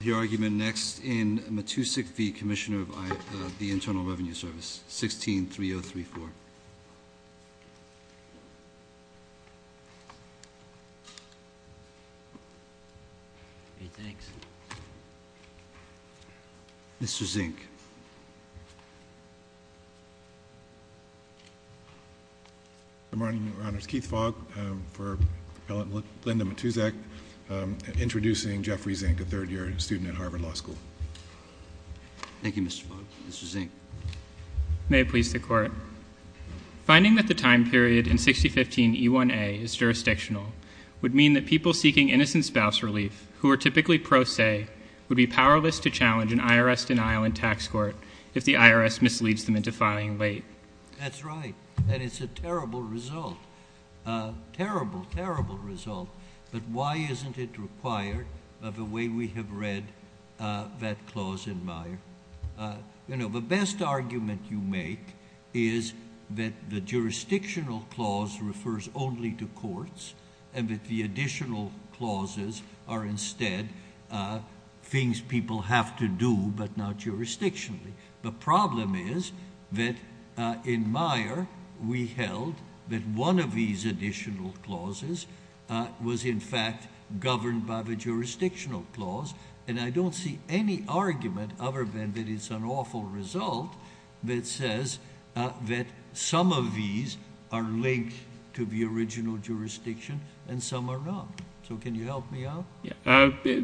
The argument next in Matuszak v. Commissioner of the Internal Revenue Service, 16-3034. Mr. Zink. Good morning, Your Honor. It's Keith Fogg for Appellant Linda Matuszak, introducing Jeffrey Zink, a third-year student at Harvard Law School. Thank you, Mr. Fogg. Mr. Zink. Finding that the time period in 6015 E1A is jurisdictional would mean that people seeking innocent spouse relief, who are typically pro se, would be powerless to challenge an IRS denial in tax court if the IRS misleads them into filing late. That's right. And it's a terrible result. Terrible, terrible result. But why isn't it required the way we have read that clause in Meyer? You know, the best argument you make is that the jurisdictional clause refers only to courts, and that the additional clauses are instead things people have to do but not jurisdictionally. The problem is that in Meyer we held that one of these additional clauses was in fact governed by the jurisdictional clause, and I don't see any argument other than that it's an awful result that says that some of these are linked to the original jurisdiction and some are not. So can you help me out?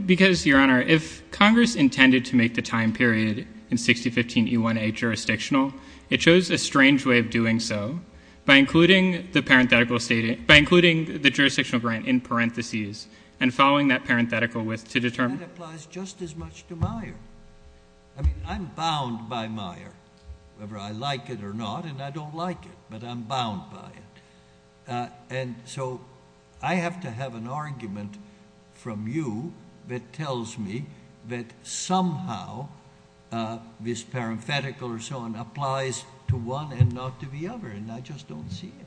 Because, Your Honor, if Congress intended to make the time period in 6015 E1A jurisdictional, it chose a strange way of doing so by including the jurisdictional grant in parentheses and following that parenthetical width to determine That applies just as much to Meyer. I mean, I'm bound by Meyer, whether I like it or not, and I don't like it, but I'm bound by it. And so I have to have an argument from you that tells me that somehow this parenthetical or so on applies to one and not to the other, and I just don't see it.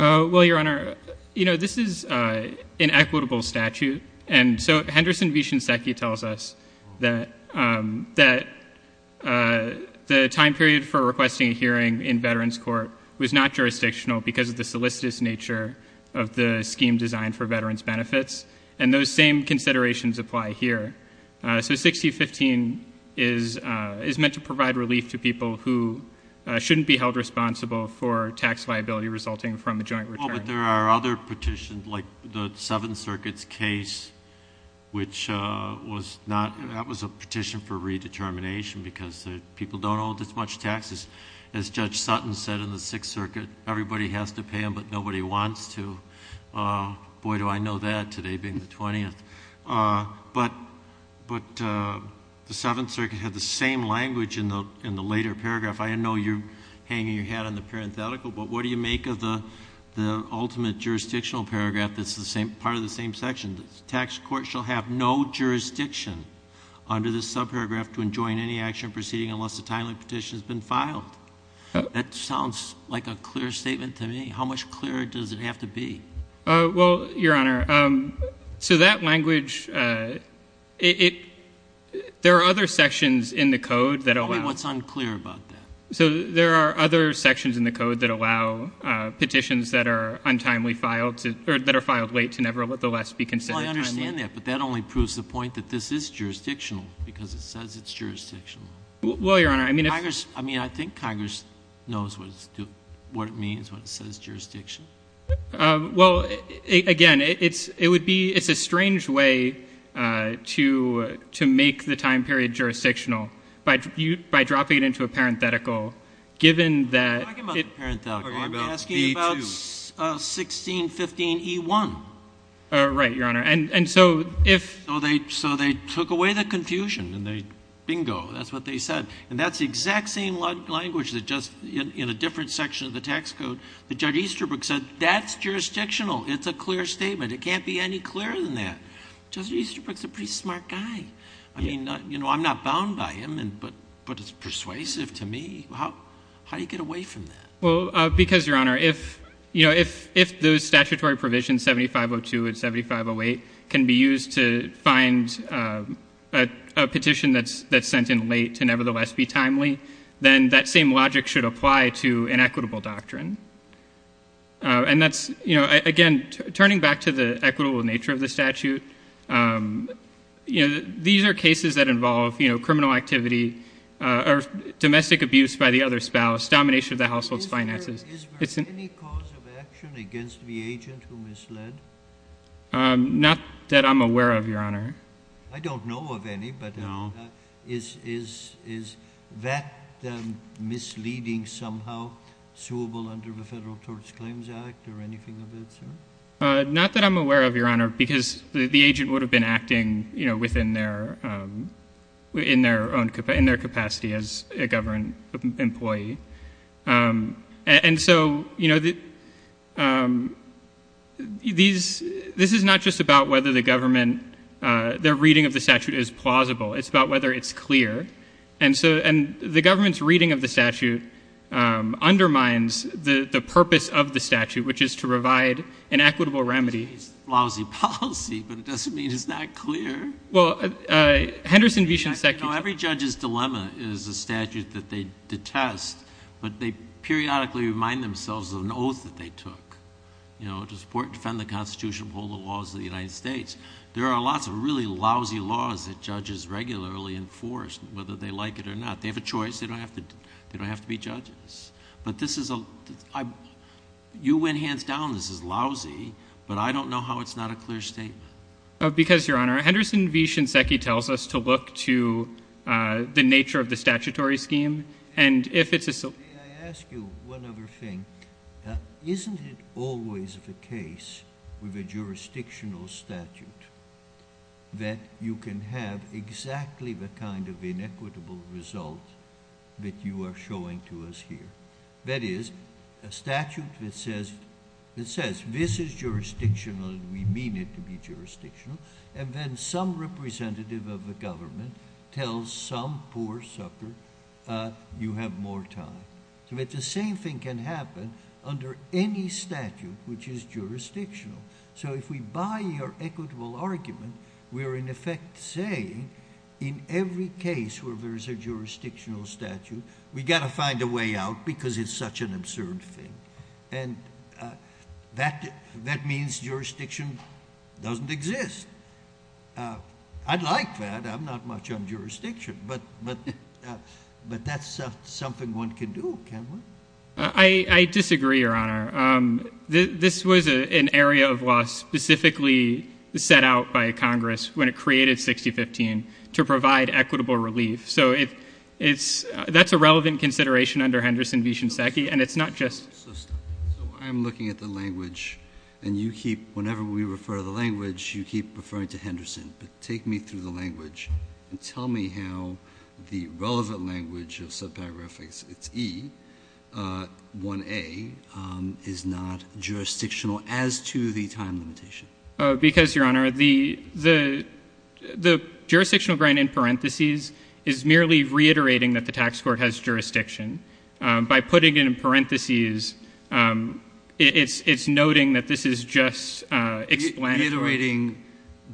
Well, Your Honor, you know, this is an equitable statute. And so Henderson v. Shinseki tells us that the time period for requesting a hearing in veterans court was not jurisdictional because of the solicitous nature of the scheme designed for veterans benefits, and those same considerations apply here. So 6015 is meant to provide relief to people who shouldn't be held responsible for tax liability resulting from a joint return. Oh, but there are other petitions, like the Seventh Circuit's case, which was a petition for redetermination because people don't owe this much taxes. As Judge Sutton said in the Sixth Circuit, everybody has to pay them, but nobody wants to. Boy, do I know that, today being the 20th. But the Seventh Circuit had the same language in the later paragraph. I know you're hanging your hat on the parenthetical, but what do you make of the ultimate jurisdictional paragraph that's part of the same section? The tax court shall have no jurisdiction under this subparagraph to enjoin any action proceeding unless a timely petition has been filed. That sounds like a clear statement to me. How much clearer does it have to be? Well, Your Honor, to that language, there are other sections in the code that allow it. What's unclear about that? So there are other sections in the code that allow petitions that are untimely filed, or that are filed late, to nevertheless be considered timely. Well, I understand that, but that only proves the point that this is jurisdictional because it says it's jurisdictional. Well, Your Honor, I mean if— I mean, I think Congress knows what it means when it says jurisdiction. Well, again, it would be—it's a strange way to make the time period jurisdictional by dropping it into a parenthetical, given that— We're talking about the parenthetical. I'm asking about 1615e1. Right, Your Honor. And so if— So they took away the confusion, and they—bingo, that's what they said. And that's the exact same language that just—in a different section of the tax code that Judge Easterbrook said. That's jurisdictional. It's a clear statement. It can't be any clearer than that. Judge Easterbrook's a pretty smart guy. I mean, you know, I'm not bound by him, but it's persuasive to me. How do you get away from that? Well, because, Your Honor, if those statutory provisions, 7502 and 7508, can be used to find a petition that's sent in late to nevertheless be timely, then that same logic should apply to an equitable doctrine. And that's—again, turning back to the equitable nature of the statute, these are cases that involve criminal activity or domestic abuse by the other spouse, domination of the household's finances. Is there any cause of action against the agent who misled? Not that I'm aware of, Your Honor. I don't know of any, but is that misleading somehow, suable under the Federal Tort Claims Act or anything of that sort? Not that I'm aware of, Your Honor, because the agent would have been acting, you know, within their own—in their capacity as a government employee. And so, you know, these—this is not just about whether the government—their reading of the statute is plausible. It's about whether it's clear. And so—and the government's reading of the statute undermines the purpose of the statute, which is to provide an equitable remedy. It's a lousy policy, but it doesn't mean it's not clear. Well, Henderson v. Shinseki— I know every judge's dilemma is a statute that they detest, but they periodically remind themselves of an oath that they took, you know, to support and defend the Constitution and uphold the laws of the United States. There are lots of really lousy laws that judges regularly enforce, whether they like it or not. They have a choice. They don't have to be judges. But this is a—you went hands down this is lousy, but I don't know how it's not a clear statement. Because, Your Honor, Henderson v. Shinseki tells us to look to the nature of the statutory scheme, and if it's a— May I ask you one other thing? Isn't it always the case with a jurisdictional statute that you can have exactly the kind of inequitable result that you are showing to us here? That is, a statute that says this is jurisdictional, and we mean it to be jurisdictional, and then some representative of the government tells some poor sucker, you have more time. But the same thing can happen under any statute which is jurisdictional. So if we buy your equitable argument, we are in effect saying, in every case where there is a jurisdictional statute, we've got to find a way out because it's such an absurd thing. And that means jurisdiction doesn't exist. I'd like that. I'm not much on jurisdiction. But that's something one can do, can't we? I disagree, Your Honor. This was an area of law specifically set out by Congress when it created 6015 to provide equitable relief. So it's — that's a relevant consideration under Henderson v. Shinseki, and it's not just— So stop. So I'm looking at the language, and you keep — whenever we refer to the language, you keep referring to Henderson. But take me through the language and tell me how the relevant language of subparagraphics, it's E, 1A, is not jurisdictional as to the time limitation. Because, Your Honor, the jurisdictional grant in parentheses is merely reiterating that the tax court has jurisdiction. By putting it in parentheses, it's noting that this is just explanatory. Reiterating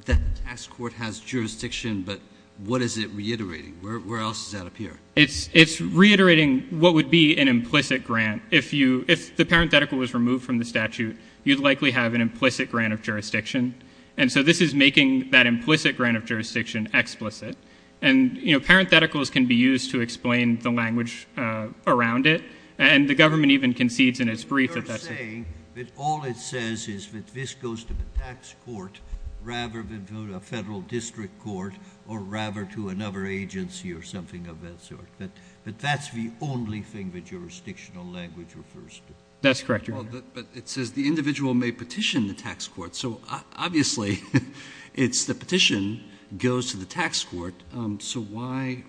that the tax court has jurisdiction, but what is it reiterating? Where else does that appear? It's reiterating what would be an implicit grant. If you — if the parenthetical was removed from the statute, you'd likely have an implicit grant of jurisdiction. And so this is making that implicit grant of jurisdiction explicit. And, you know, parentheticals can be used to explain the language around it. And the government even concedes in its brief that that's — You're saying that all it says is that this goes to the tax court rather than to a federal district court or rather to another agency or something of that sort. But that's the only thing that jurisdictional language refers to. That's correct, Your Honor. But it says the individual may petition the tax court. So, obviously, it's the petition goes to the tax court. So why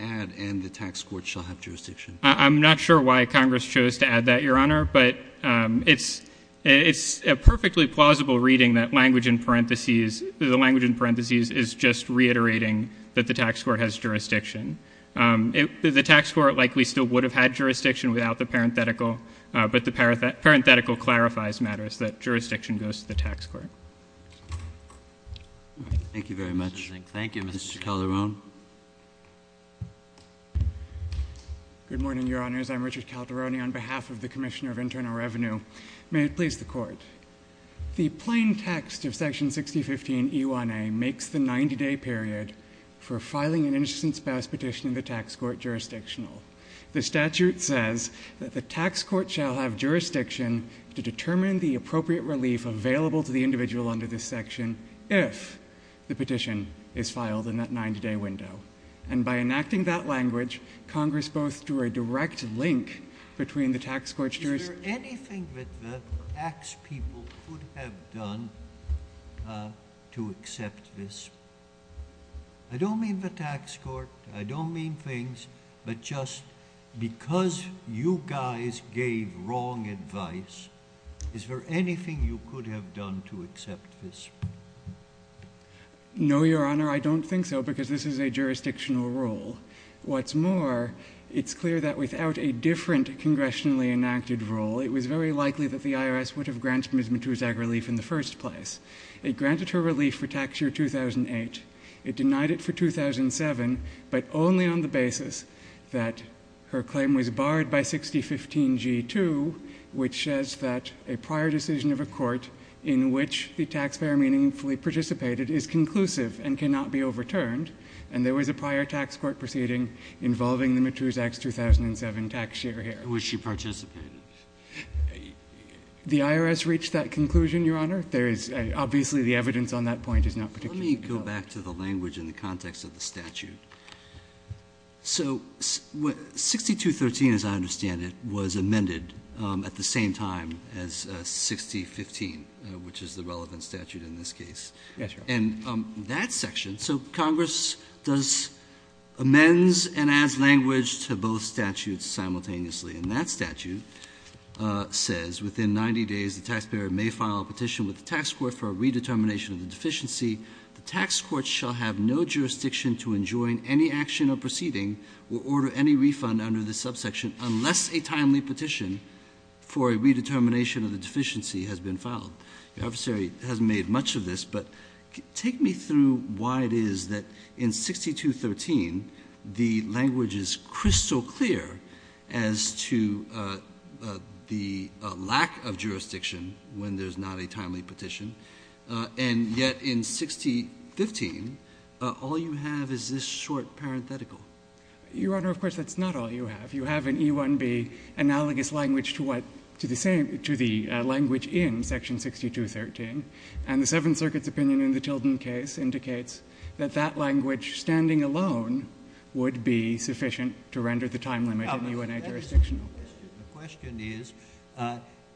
add and the tax court shall have jurisdiction? I'm not sure why Congress chose to add that, Your Honor. But it's a perfectly plausible reading that language in parentheses — the language in parentheses is just reiterating that the tax court has jurisdiction. The tax court likely still would have had jurisdiction without the parenthetical, but the parenthetical clarifies matters that jurisdiction goes to the tax court. All right. Thank you very much. Thank you, Mr. Calderon. Good morning, Your Honors. I'm Richard Calderoni on behalf of the Commissioner of Internal Revenue. May it please the Court. The plain text of Section 6015 E1A makes the 90-day period for filing an innocent spouse petition in the tax court jurisdictional. The statute says that the tax court shall have jurisdiction to determine the appropriate relief available to the individual under this section if the petition is filed in that 90-day window. And by enacting that language, Congress both drew a direct link between the tax court's jurisdiction — Is there anything that the tax people could have done to accept this? I don't mean the tax court. I don't mean things. But just because you guys gave wrong advice, is there anything you could have done to accept this? No, Your Honor, I don't think so because this is a jurisdictional rule. What's more, it's clear that without a different congressionally enacted rule, it was very likely that the IRS would have granted Ms. Matusak relief in the first place. It granted her relief for tax year 2008. It denied it for 2007, but only on the basis that her claim was barred by 6015 G2, which says that a prior decision of a court in which the taxpayer meaningfully participated is conclusive and cannot be overturned. And there was a prior tax court proceeding involving the Matusak's 2007 tax year here. Was she participating? The IRS reached that conclusion, Your Honor. There is — obviously, the evidence on that point is not particularly — Let me go back to the language in the context of the statute. So 6213, as I understand it, was amended at the same time as 6015, which is the relevant statute in this case. Yes, Your Honor. And that section — so Congress does — amends and adds language to both statutes simultaneously. And that statute says, Within 90 days, the taxpayer may file a petition with the tax court for a redetermination of the deficiency. The tax court shall have no jurisdiction to enjoin any action or proceeding or order any refund under this subsection unless a timely petition for a redetermination of the deficiency has been filed. The officer hasn't made much of this, but take me through why it is that in 6213, the language is crystal clear as to the lack of jurisdiction when there's not a timely petition. And yet in 6015, all you have is this short parenthetical. Your Honor, of course, that's not all you have. If you have an E-1B analogous language to what — to the same — to the language in section 6213, and the Seventh Circuit's opinion in the Tilden case indicates that that language standing alone would be sufficient to render the time limit in the U.N.A. jurisdictional case. The question is,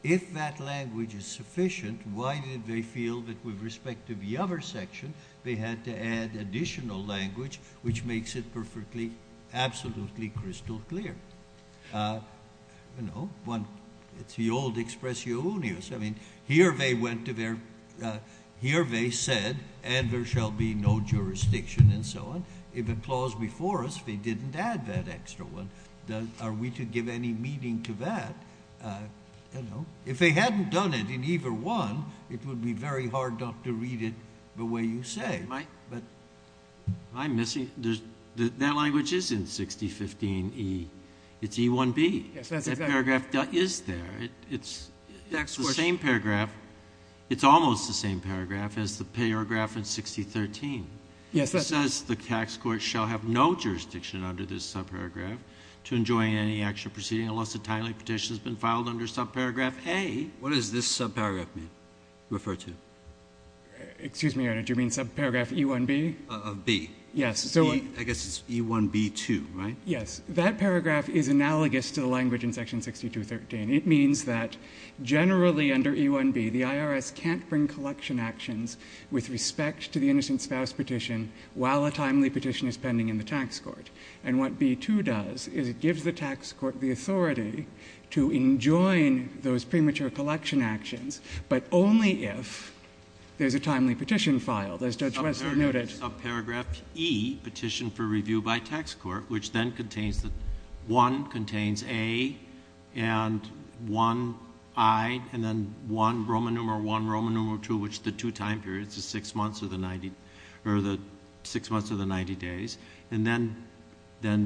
if that language is sufficient, why did they feel that with respect to the other section, they had to add additional language, which makes it perfectly, absolutely crystal clear? You know, one — it's the old expressionius. I mean, here they went to their — here they said, and there shall be no jurisdiction and so on. If it was before us, they didn't add that extra one. Are we to give any meaning to that? You know, if they hadn't done it in either one, it would be very hard not to read it the way you say. But I'm missing — that language is in 6015E. It's E-1B. That paragraph is there. It's the same paragraph — it's almost the same paragraph as the paragraph in 6013. It says the tax court shall have no jurisdiction under this subparagraph to enjoin any actual proceeding unless a timely petition has been filed under subparagraph A. What does this subparagraph mean, refer to? Excuse me, Your Honor. Do you mean subparagraph E-1B? Of B. Yes. I guess it's E-1B-2, right? Yes. That paragraph is analogous to the language in section 6213. It means that generally under E-1B, the IRS can't bring collection actions with respect to the innocent spouse petition while a timely petition is pending in the tax court. And what B-2 does is it gives the tax court the authority to enjoin those premature collection actions, but only if there's a timely petition filed, as Judge Wessler noted. Subparagraph E, petition for review by tax court, which then contains — one contains A and one I, and then one Roman numeral I, Roman numeral II, which is the two time periods, the six months or the 90 days. And then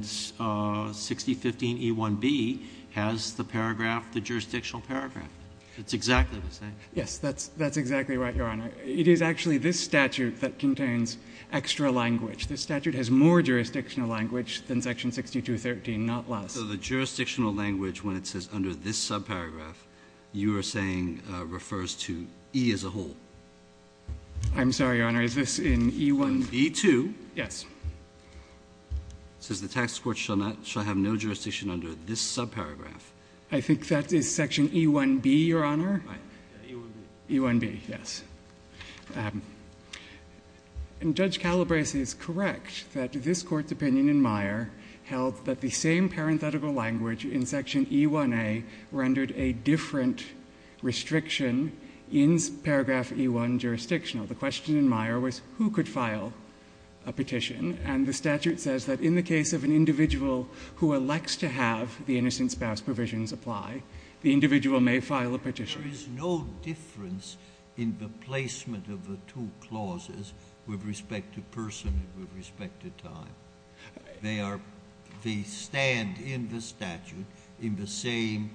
6015 E-1B has the paragraph, the jurisdictional paragraph. It's exactly the same. Yes. That's exactly right, Your Honor. It is actually this statute that contains extra language. This statute has more jurisdictional language than section 6213, not less. So the jurisdictional language, when it says under this subparagraph, you are saying refers to E as a whole. I'm sorry, Your Honor. Is this in E-1? E-2. Yes. It says the tax court shall not — shall have no jurisdiction under this subparagraph. I think that is section E-1B, Your Honor. Right. E-1B. E-1B, yes. And Judge Calabresi is correct that this Court's opinion in Meyer held that the same parenthetical language in section E-1A rendered a different restriction in paragraph E-1 jurisdictional. The question in Meyer was who could file a petition. And the statute says that in the case of an individual who elects to have the innocent spouse provisions apply, the individual may file a petition. There is no difference in the placement of the two clauses with respect to person and with respect to time. They stand in the statute in the same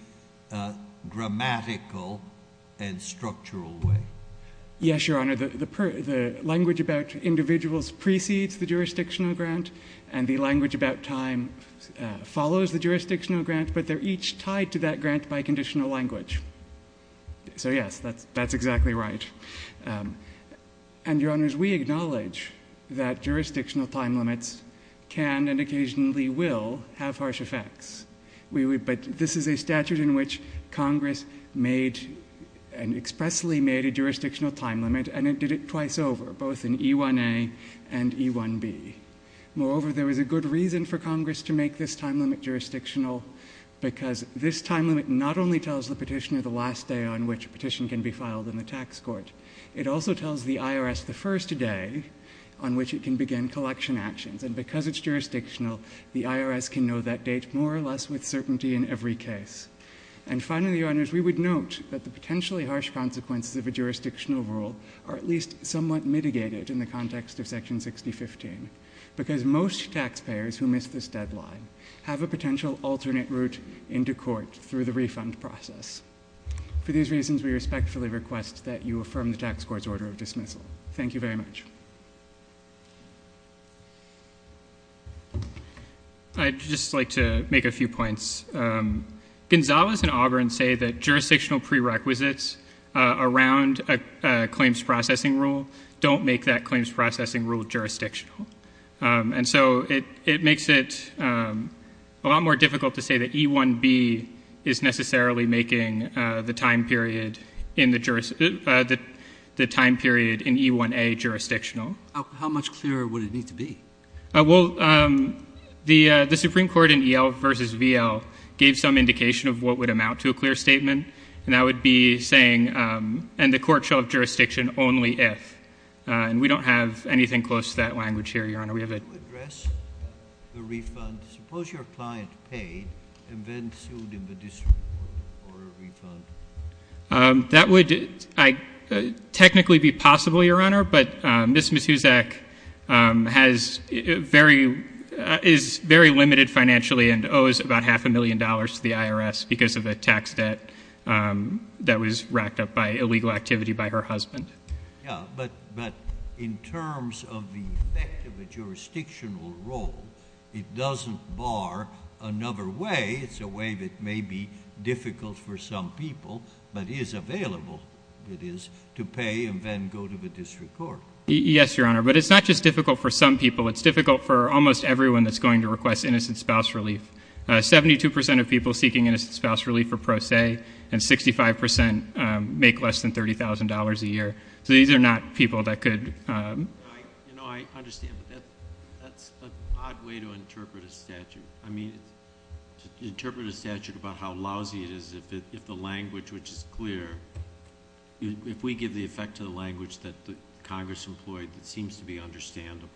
grammatical and structural way. Yes, Your Honor. The language about individuals precedes the jurisdictional grant, and the language about time follows the jurisdictional grant, but they're each tied to that grant by conditional language. So, yes, that's exactly right. And, Your Honors, we acknowledge that jurisdictional time limits can and occasionally will have harsh effects. But this is a statute in which Congress made — expressly made a jurisdictional time limit and it did it twice over, both in E-1A and E-1B. Moreover, there is a good reason for Congress to make this time limit jurisdictional because this time limit not only tells the petitioner the last day on which a petition can be filed in the tax court, it also tells the IRS the first day on which it can begin collection actions. And because it's jurisdictional, the IRS can know that date more or less with certainty in every case. And finally, Your Honors, we would note that the potentially harsh consequences of a jurisdictional rule are at least somewhat mitigated in the context of Section 6015, because most taxpayers who miss this deadline have a potential alternate route into court through the refund process. For these reasons, we respectfully request that you affirm the tax court's order of dismissal. Thank you very much. I'd just like to make a few points. Gonzales and Auburn say that jurisdictional prerequisites around a claims processing rule don't make that claims processing rule jurisdictional. And so it makes it a lot more difficult to say that E-1B is necessarily making the time period in the jurisdiction — the time period in E-1A jurisdictional. How much clearer would it need to be? Well, the Supreme Court in E-L versus V-L gave some indication of what would amount to a clear statement. And that would be saying, and the court shall have jurisdiction only if. And we don't have anything close to that language here, Your Honor. We have a — Could you address the refund? Suppose your client paid and then sued in the district court for a refund. That would technically be possible, Your Honor. But Ms. Musuzak has very — is very limited financially and owes about half a million dollars to the IRS because of the tax debt that was racked up by illegal activity by her husband. Yeah. But in terms of the effect of a jurisdictional rule, it doesn't bar another way. It's a way that may be difficult for some people, but is available, it is, to pay and then go to the district court. Yes, Your Honor. But it's not just difficult for some people. It's difficult for almost everyone that's going to request innocent spouse relief. Seventy-two percent of people seeking innocent spouse relief are pro se, and 65 percent make less than $30,000 a year. So these are not people that could — You know, I understand, but that's an odd way to interpret a statute. I mean, to interpret a statute about how lousy it is if the language, which is clear, if we give the effect to the language that Congress employed that seems to be understandable,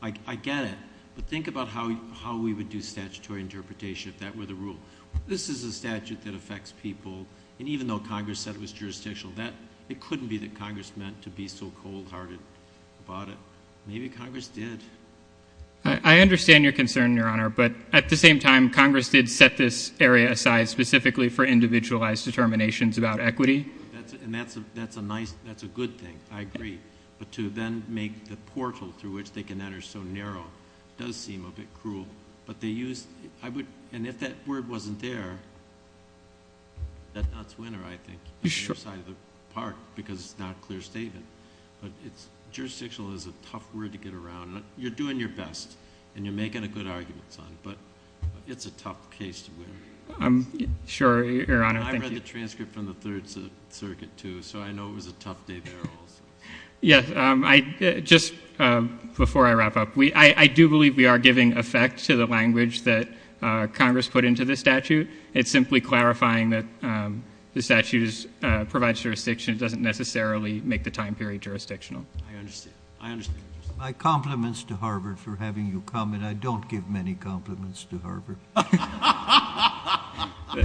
I get it. But think about how we would do statutory interpretation if that were the rule. This is a statute that affects people, and even though Congress said it was jurisdictional, that — it couldn't be that Congress meant to be so cold-hearted about it. Maybe Congress did. I understand your concern, Your Honor, but at the same time, Congress did set this area aside specifically for individualized determinations about equity. And that's a nice — that's a good thing. I agree. But to then make the portal through which they can enter so narrow does seem a bit cruel. But they used — I would — and if that word wasn't there, that's not a winner, I think. Sure. On your side of the park, because it's not a clear statement. But it's — jurisdictional is a tough word to get around. You're doing your best, and you're making a good argument, son, but it's a tough case to win. Sure, Your Honor. Thank you. And I read the transcript from the Third Circuit, too, so I know it was a tough day there also. Yes. I — just before I wrap up, we — I do believe we are giving effect to the language that Congress put into this statute. It's simply clarifying that the statute is — provides jurisdiction. It doesn't necessarily make the time period jurisdictional. I understand. I understand. My compliments to Harvard for having you come. And I don't give many compliments to Harvard.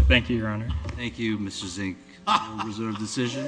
Thank you, Your Honor. Thank you, Mr. Zink. I will reserve the decision.